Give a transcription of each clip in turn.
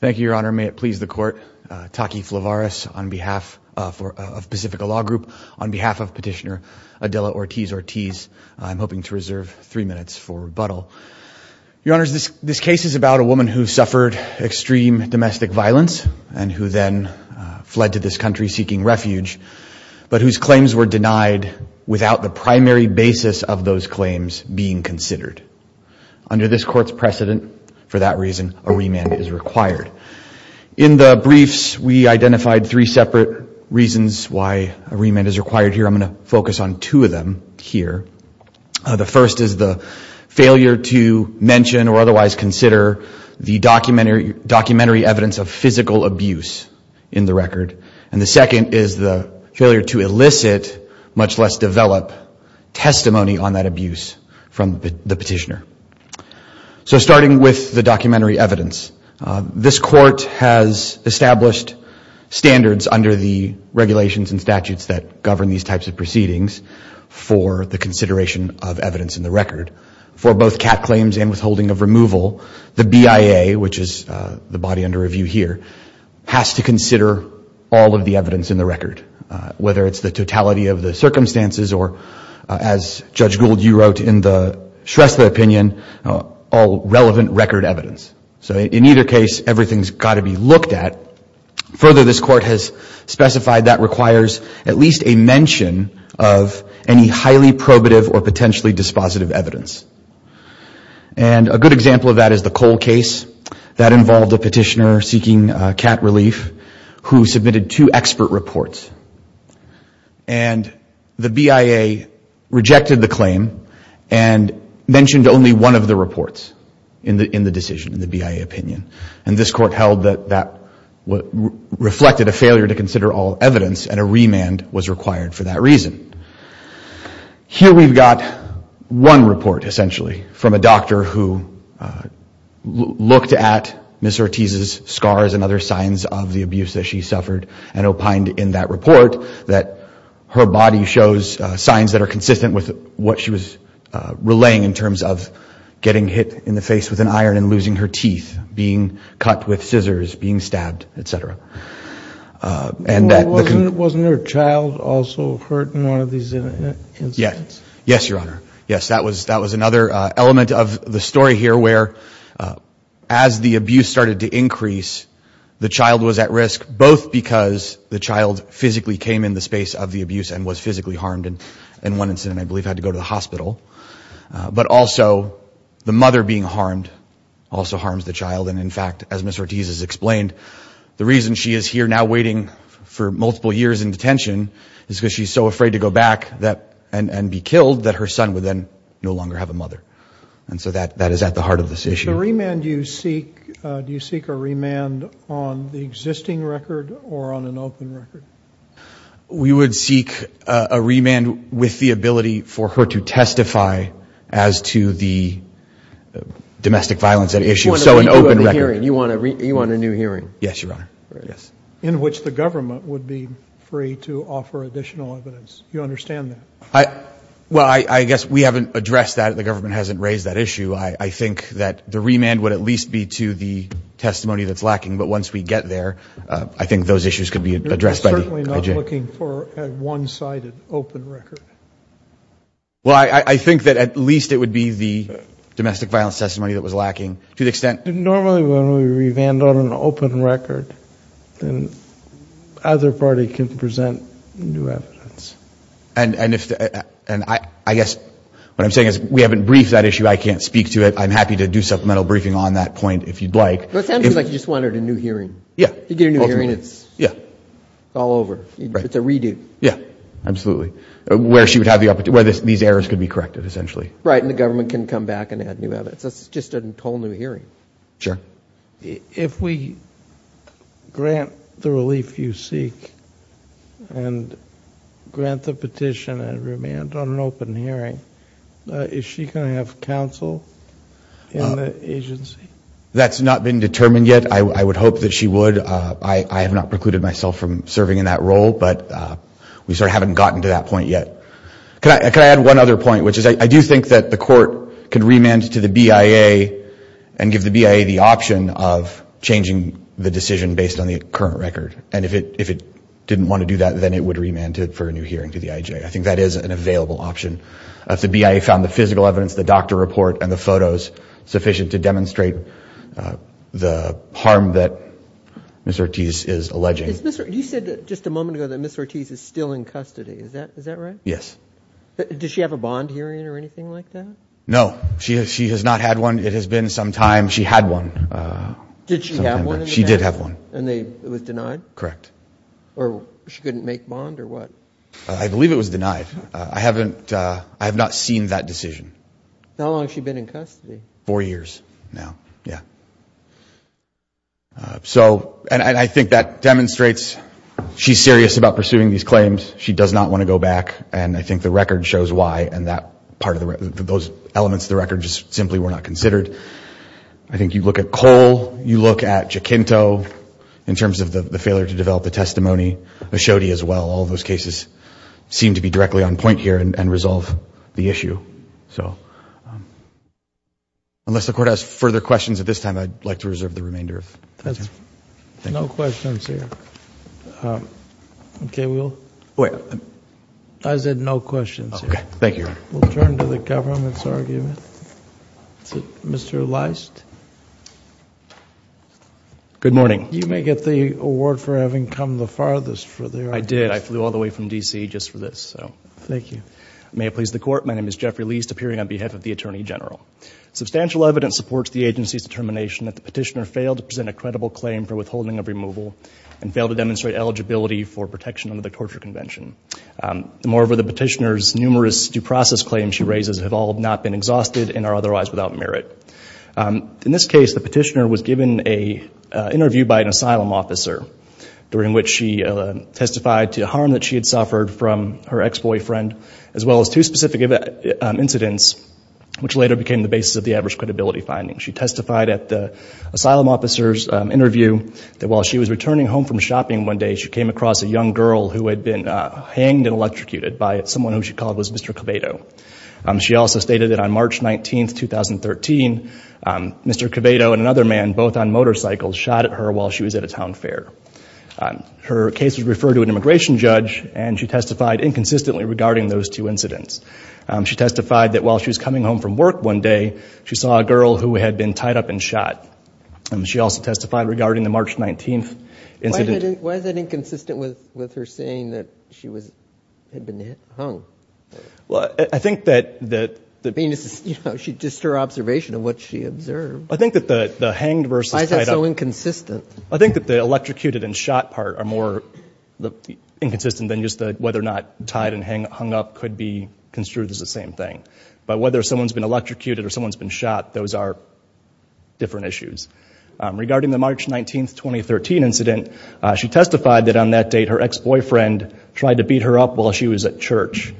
Thank you, Your Honor. May it please the Court, Taki Flavaris of Pacifica Law Group, on behalf of Petitioner Adela Ortiz-Ortiz, I'm hoping to reserve three minutes for rebuttal. Your Honors, this case is about a woman who suffered extreme domestic violence and who then fled to this country seeking refuge, but whose claims were denied without the primary basis of those claims being considered. Under this Court's precedent, for that reason, a remand is required. In the briefs, we identified three separate reasons why a remand is required here. I'm going to focus on two of them here. The first is the failure to mention or otherwise consider the documentary evidence of physical abuse in the record, and the second is the failure to elicit, much less develop, testimony on that abuse from the petitioner. So starting with the documentary evidence, this Court has established standards under the regulations and statutes that govern these types of proceedings for the consideration of evidence in the record. For both cat claims and withholding of removal, the BIA, which is the body under review here, has to consider all of the evidence in the record, whether it's the totality of the circumstances or, as Judge Gould, you wrote in the Shrestha opinion, all relevant record evidence. So in either case, everything's got to be looked at. Further, this Court has specified that requires at least a mention of any highly probative or potentially dispositive evidence. And a good example of that is the Cole case. That involved a petitioner seeking cat relief who submitted two expert reports. And the BIA rejected the claim and mentioned only one of the reports in the decision, in the BIA opinion, and this Court held that that reflected a failure to consider all evidence and a remand was required for that reason. Here we've got one report, essentially, from a doctor who looked at Ms. Ortiz's scars and other signs of the abuse that she suffered and opined in that report that her body shows signs that are consistent with what she was relaying in terms of getting hit in the face with an iron and losing her teeth, being cut with scissors, being stabbed, et cetera. And that... Wasn't her child also hurt in one of these incidents? Yes, Your Honor. Yes, that was another element of the story here where, as the abuse started to increase, the child was at risk, both because the child physically came in the space of the abuse and was physically harmed, and in one incident, I believe, had to go to the hospital. But also, the mother being harmed also harms the child, and in fact, as Ms. Ortiz has explained, the reason she is here now waiting for multiple years in detention is because she's so afraid to go back and be killed that her son would then no longer have a mother, and so that is at the heart of this issue. Is the remand you seek, do you seek a remand on the existing record or on an open record? We would seek a remand with the ability for her to testify as to the domestic violence at issue, so an open record. You want a new hearing? Yes, Your Honor. Yes. A hearing in which the government would be free to offer additional evidence. You understand that? Well, I guess we haven't addressed that. The government hasn't raised that issue. I think that the remand would at least be to the testimony that's lacking, but once we get there, I think those issues could be addressed by the IJ. You're certainly not looking for a one-sided open record? Well, I think that at least it would be the domestic violence testimony that was lacking to the extent... Normally, when we remand on an open record, then either party can present new evidence. And I guess what I'm saying is we haven't briefed that issue. I can't speak to it. I'm happy to do supplemental briefing on that point if you'd like. It sounds like you just wanted a new hearing. Yeah. You get a new hearing, it's all over. It's a redo. Yeah, absolutely. Where she would have the opportunity, where these errors could be corrected essentially. Right, and the government can come back and add new evidence. It's just a whole new hearing. Sure. If we grant the relief you seek and grant the petition and remand on an open hearing, is she going to have counsel in the agency? That's not been determined yet. I would hope that she would. I have not precluded myself from serving in that role, but we sort of haven't gotten to that point yet. Can I add one other point, which is I do think that the court can remand to the BIA and give the BIA the option of changing the decision based on the current record. And if it didn't want to do that, then it would remand it for a new hearing to the IJ. I think that is an available option. If the BIA found the physical evidence, the doctor report, and the photos sufficient to demonstrate the harm that Ms. Ortiz is alleging. You said just a moment ago that Ms. Ortiz is still in custody. Is that right? Yes. Does she have a bond hearing or anything like that? No. She has not had one. It has been some time. She had one. Did she have one? She did have one. And it was denied? Correct. Or she couldn't make bond or what? I believe it was denied. I have not seen that decision. How long has she been in custody? Four years now. I think that demonstrates she's serious about pursuing these claims. She does not want to go back, and I think the record shows why, and those elements of the record just simply were not considered. I think you look at Cole, you look at Jacinto, in terms of the failure to develop the testimony, Ashodi as well. All those cases seem to be directly on point here and resolve the issue. Unless the Court has further questions at this time, I'd like to reserve the remainder of time. No questions here. Okay. Mr. Leist, you will? I said no questions here. Thank you, Your Honor. We'll turn to the government's argument. Mr. Leist? Good morning. You may get the award for having come the farthest for the argument. I did. I flew all the way from D.C. just for this. Thank you. May it please the Court, my name is Jeffrey Leist, appearing on behalf of the Attorney General. Substantial evidence supports the agency's determination that the petitioner failed to present a credible claim for withholding of removal and failed to demonstrate eligibility for protection under the Torture Convention. Moreover, the petitioner's numerous due process claims she raises have all not been exhausted and are otherwise without merit. In this case, the petitioner was given an interview by an asylum officer, during which she testified to the harm that she had suffered from her ex-boyfriend, as well as two specific incidents, which later became the basis of the adverse credibility findings. She testified at the asylum officer's interview that while she was returning home from shopping one day, she came across a young girl who had been hanged and electrocuted by someone who she called Mr. Quevedo. She also stated that on March 19, 2013, Mr. Quevedo and another man, both on motorcycles, shot at her while she was at a town fair. Her case was referred to an immigration judge, and she testified inconsistently regarding those two incidents. She testified that while she was coming home from work one day, she saw a girl who had been tied up and shot. She also testified regarding the March 19th incident. Why is that inconsistent with her saying that she had been hung? I think that the... I mean, it's just her observation of what she observed. I think that the hanged versus tied up... Why is that so inconsistent? I think that the electrocuted and shot part are more inconsistent than just whether or not tied and hung up could be construed as the same thing. But whether someone's been electrocuted or someone's been shot, those are different issues. Regarding the March 19, 2013 incident, she testified that on that date, her ex-boyfriend tried to beat her up while she was at church.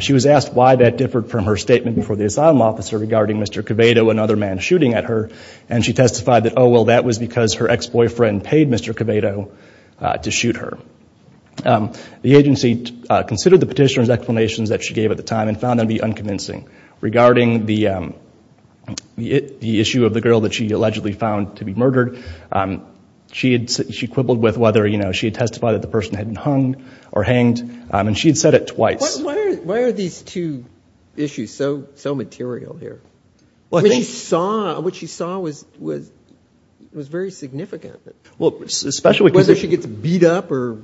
She was asked why that differed from her statement before the asylum officer regarding Mr. Quevedo and another man shooting at her, and she testified that, oh, well, that was because her ex-boyfriend paid Mr. Quevedo to shoot her. The agency considered the petitioner's explanations that she gave at the time and found them to be confusing. Regarding the issue of the girl that she allegedly found to be murdered, she quibbled with whether she had testified that the person hadn't hung or hanged, and she had said it twice. Why are these two issues so material here? What she saw was very significant. Well, especially... Whether she gets beat up or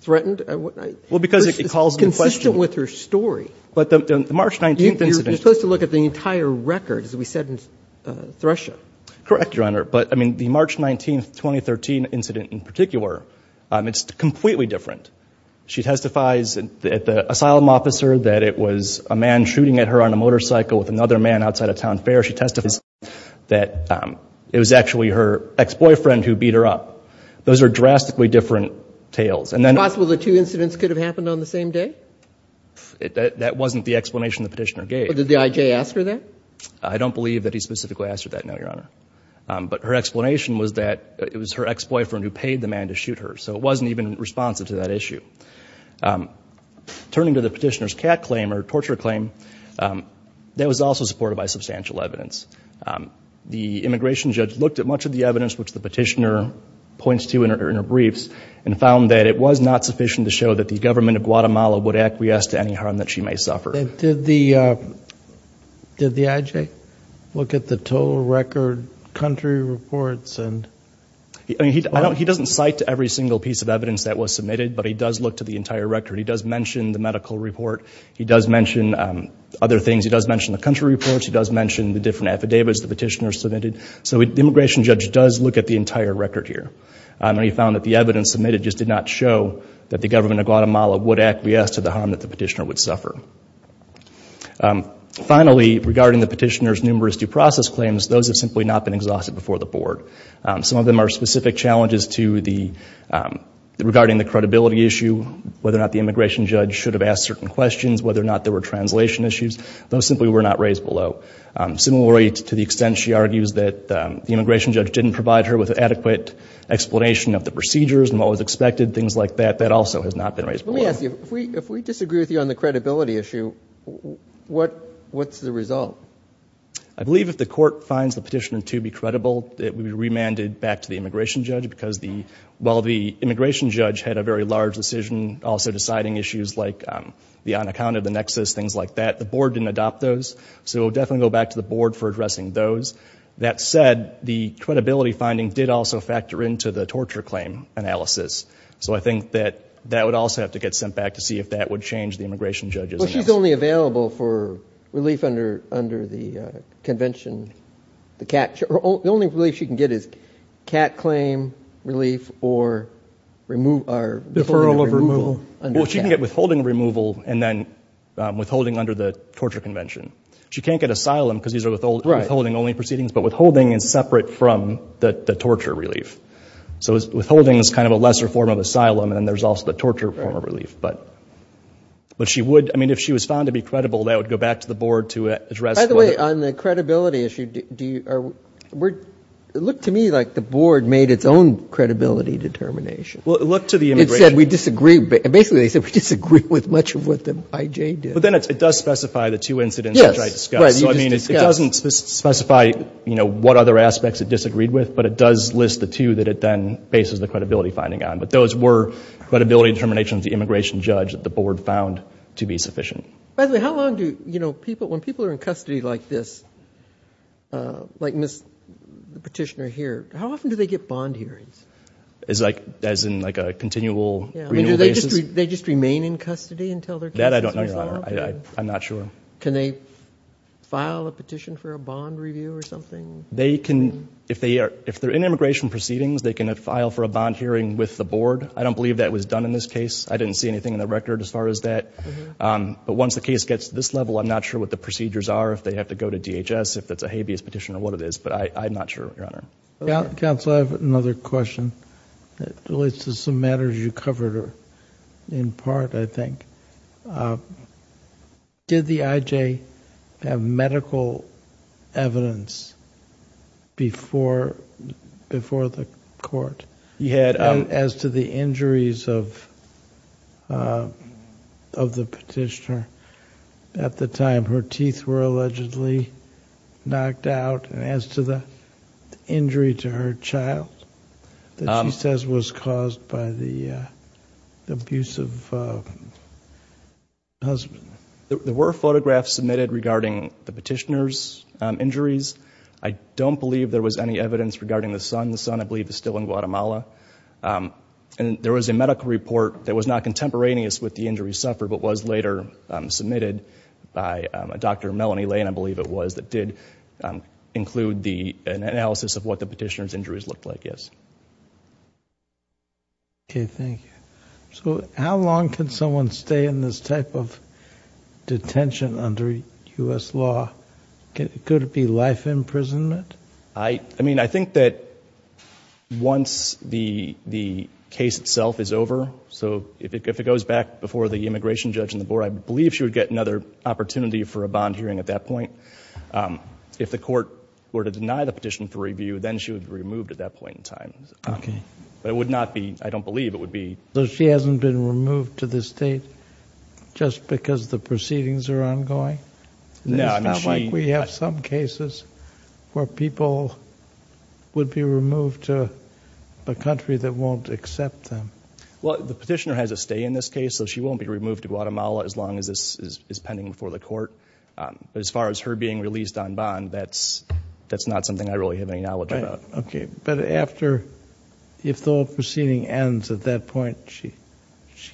threatened? Well, because it calls into question... It's consistent with her story. But the March 19th incident... You're supposed to look at the entire record, as we said in Thresher. Correct, Your Honor, but the March 19, 2013 incident in particular, it's completely different. She testifies at the asylum officer that it was a man shooting at her on a motorcycle with another man outside a town fair. She testified that it was actually her ex-boyfriend who beat her up. Those are drastically different tales, and then... That wasn't the explanation the petitioner gave. But did the IJ ask her that? I don't believe that he specifically asked her that, no, Your Honor. But her explanation was that it was her ex-boyfriend who paid the man to shoot her, so it wasn't even responsive to that issue. Turning to the petitioner's cat claim or torture claim, that was also supported by substantial evidence. The immigration judge looked at much of the evidence, which the petitioner points to in her briefs, and found that it was not sufficient to show that the government of Guatemala would acquiesce to any harm that she may suffer. Did the IJ look at the total record, country reports? He doesn't cite every single piece of evidence that was submitted, but he does look to the entire record. He does mention the medical report. He does mention other things. He does mention the country reports. He does mention the different affidavits the petitioner submitted. So the immigration judge does look at the entire record here, and he found that the evidence submitted just did not show that the government of Guatemala would acquiesce to the harm that the petitioner would suffer. Finally, regarding the petitioner's numerous due process claims, those have simply not been exhausted before the board. Some of them are specific challenges to the, regarding the credibility issue, whether or not the immigration judge should have asked certain questions, whether or not there were translation issues. Those simply were not raised below. Similarly, to the extent she argues that the immigration judge didn't provide her with adequate explanation of the procedures and what was expected, things like that, that also has not been raised below. Let me ask you, if we disagree with you on the credibility issue, what's the result? I believe if the court finds the petitioner to be credible, it would be remanded back to the immigration judge because the, while the immigration judge had a very large decision also deciding issues like the unaccounted, the nexus, things like that, the board didn't adopt those. So we'll definitely go back to the board for addressing those. That said, the credibility finding did also factor into the torture claim analysis. So I think that that would also have to get sent back to see if that would change the immigration judge's analysis. Well, she's only available for relief under, under the convention. The cat, the only relief she can get is cat claim relief or remove, deferral of removal. Well, she can get withholding removal and then withholding under the torture convention. She can't get asylum because these are withholding only proceedings, but withholding is separate from the torture relief. So withholding is kind of a lesser form of asylum and then there's also the torture form of relief. But, but she would, I mean, if she was found to be credible, that would go back to the board to address. By the way, on the credibility issue, do you, look to me like the board made its own credibility determination. Well, look to the immigration. It said we disagree. Basically they said we disagree with much of what the IJ did. But then it does specify the two incidents which I discussed. So I mean, it doesn't specify, you know, what other aspects it disagreed with, but it does list the two that it then bases the credibility finding on. But those were credibility determinations of the immigration judge that the board found to be sufficient. By the way, how long do, you know, people, when people are in custody like this, like Ms. Petitioner here, how often do they get bond hearings? As like, as in like a continual renewal basis? They just remain in custody until their case is resolved? That I don't know, Your Honor. I'm not sure. Can they file a petition for a bond review or something? They can, if they are, if they're in immigration proceedings, they can file for a bond hearing with the board. I don't believe that was done in this case. I didn't see anything in the record as far as that. But once the case gets to this level, I'm not sure what the procedures are, if they have to go to DHS, if that's a habeas petition or what it is. But I'm not sure, Your Honor. Counsel, I have another question that relates to some matters you covered in part, I think. Did the IJ have medical evidence before the court as to the injuries of the Petitioner at the time her teeth were allegedly knocked out and as to the injury to her child that she says was caused by the abuse of her husband? There were photographs submitted regarding the Petitioner's injuries. I don't believe there was any evidence regarding the son. The son, I believe, is still in Guatemala. And there was a medical report that was not contemporaneous with the injury suffered but was later submitted by Dr. Melanie Lane, I believe it was, that did include an analysis of what the Petitioner's injuries looked like, yes. Okay, thank you. So how long can someone stay in this type of detention under U.S. law? Could it be life imprisonment? I mean, I think that once the case itself is over, so if it goes back before the immigration judge and the board, I believe she would get another opportunity for a bond hearing at that point. If the court were to deny the Petition for review, then she would be removed at that point in time. Okay. But it would not be, I don't believe it would be. So she hasn't been removed to the state just because the proceedings are ongoing? No, I mean, she... It's not like we have some cases where people would be removed to a country that won't accept them. Well, the Petitioner has a stay in this case, so she won't be removed to Guatemala as long as this is pending before the court. But as far as her being released on bond, that's not something I really have any knowledge about. Okay. But after, if the whole proceeding ends at that point, she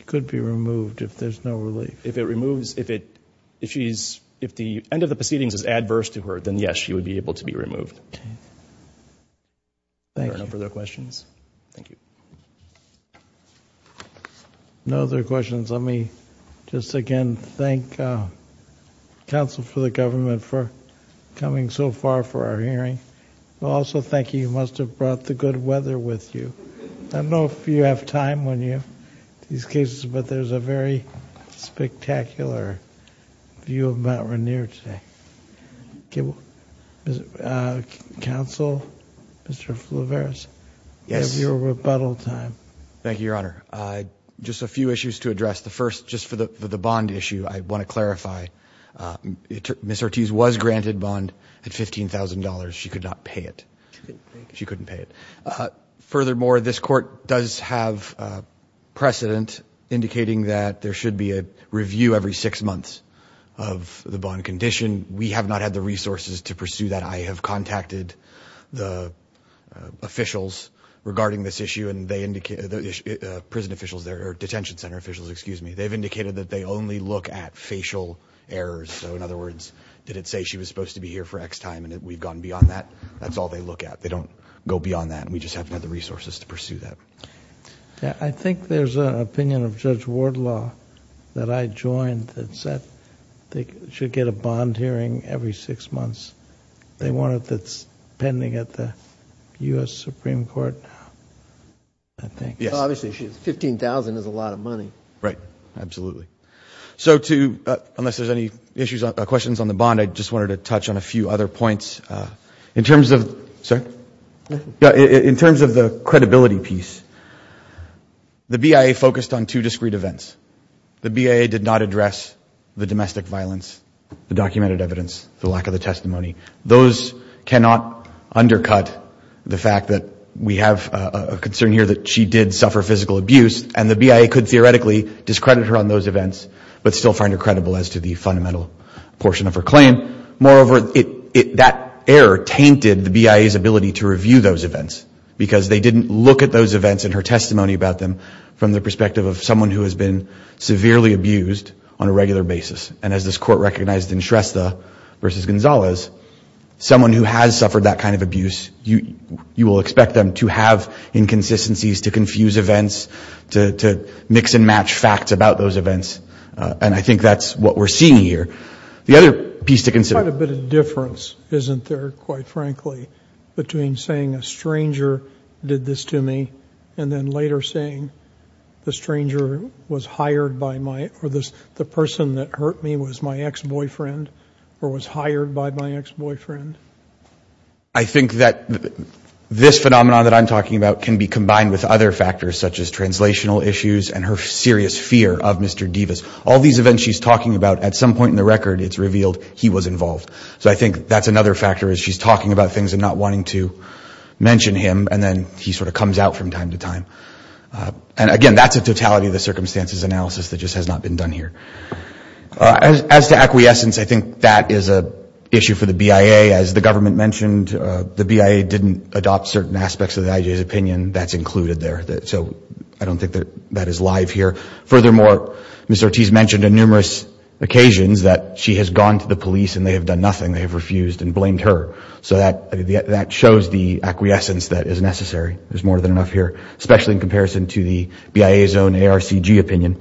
could be removed if there's no relief? If it removes, if the end of the proceedings is adverse to her, then yes, she would be able to be removed. Okay. Thank you. If there are no further questions, thank you. No other questions. Let me just again thank counsel for the government for coming so far for our hearing. Also, thank you. You must have brought the good weather with you. I don't know if you have time when you have these cases, but there's a very spectacular view of Mount Rainier today. Counsel, Mr. Fulvarez, you have your rebuttal time. Yes. Thank you, Your Honor. Just a few issues to address. The first, just for the bond issue, I want to clarify, Ms. Ortiz was granted bond at $15,000. She could not pay it. She couldn't pay it. Furthermore, this court does have precedent indicating that there should be a review every six months of the bond condition. We have not had the resources to pursue that. I have contacted the officials regarding this issue and they indicate... the prison officials there, or detention center officials, excuse me. They've indicated that they only look at facial errors. In other words, did it say she was supposed to be here for X time and we've gone beyond that? That's all they look at. They don't go beyond that. We just haven't had the resources to pursue that. I think there's an opinion of Judge Wardlaw that I joined that said they should get a bond. They want it that's pending at the U.S. Supreme Court, I think. Yes. Obviously, $15,000 is a lot of money. Right. Absolutely. Unless there's any questions on the bond, I just wanted to touch on a few other points. In terms of the credibility piece, the BIA focused on two discrete events. The BIA did not address the domestic violence, the documented evidence, the lack of the testimony. Those cannot undercut the fact that we have a concern here that she did suffer physical abuse and the BIA could theoretically discredit her on those events but still find her credible as to the fundamental portion of her claim. Moreover, that error tainted the BIA's ability to review those events because they didn't look at those events and her testimony about them from the perspective of someone who has been severely abused on a regular basis. As this court recognized in Shrestha versus Gonzalez, someone who has suffered that kind of abuse, you will expect them to have inconsistencies, to confuse events, to mix and match facts about those events. I think that's what we're seeing here. The other piece to consider- Quite a bit of difference, isn't there, quite frankly, between saying a stranger did this to me and then later saying the stranger was hired by my- or the person that hurt me was my ex-boyfriend or was hired by my ex-boyfriend? I think that this phenomenon that I'm talking about can be combined with other factors such as translational issues and her serious fear of Mr. Devis. All these events she's talking about, at some point in the record, it's revealed he was involved. So I think that's another factor is she's talking about things and not wanting to mention him and then he sort of comes out from time to time. And again, that's a totality of the circumstances analysis that just has not been done here. As to acquiescence, I think that is an issue for the BIA. As the government mentioned, the BIA didn't adopt certain aspects of the IJA's opinion. That's included there. So I don't think that is live here. Furthermore, Ms. Ortiz mentioned on numerous occasions that she has gone to the police and they have done nothing. They have refused and blamed her. So that shows the acquiescence that is necessary. There's more than enough here, especially in comparison to the BIA's own ARCG opinion.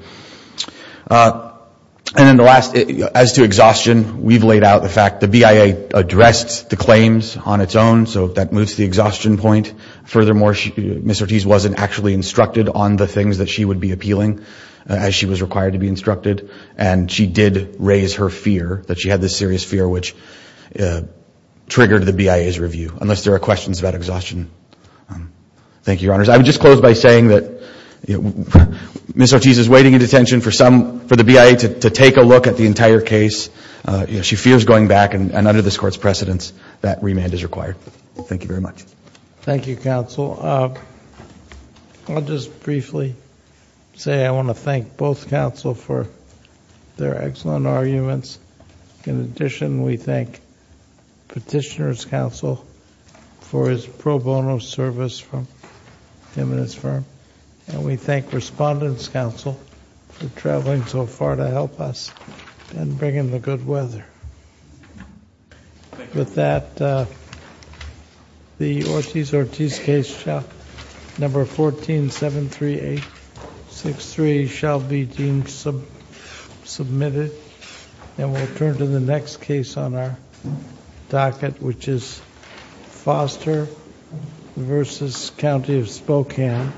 And then the last, as to exhaustion, we've laid out the fact the BIA addressed the claims on its own. So that moves the exhaustion point. Furthermore, Ms. Ortiz wasn't actually instructed on the things that she would be appealing as she was required to be instructed. And she did raise her fear, that she had this serious fear, which triggered the BIA's review, unless there are questions about exhaustion. Thank you, Your Honors. I would just close by saying that Ms. Ortiz is waiting in detention for the BIA to take a look at the entire case. She fears going back. And under this Court's precedence, that remand is required. Thank you very much. Thank you, Counsel. I'll just briefly say I want to thank both counsel for their excellent arguments. In addition, we thank Petitioner's counsel for his pro bono service from him and his firm. And we thank Respondent's counsel for traveling so far to help us and bringing the good weather. With that, the Ortiz-Ortiz case, number 1473863, shall be deemed submitted. And we'll turn to the next case on our docket, which is Foster v. County of Spokane.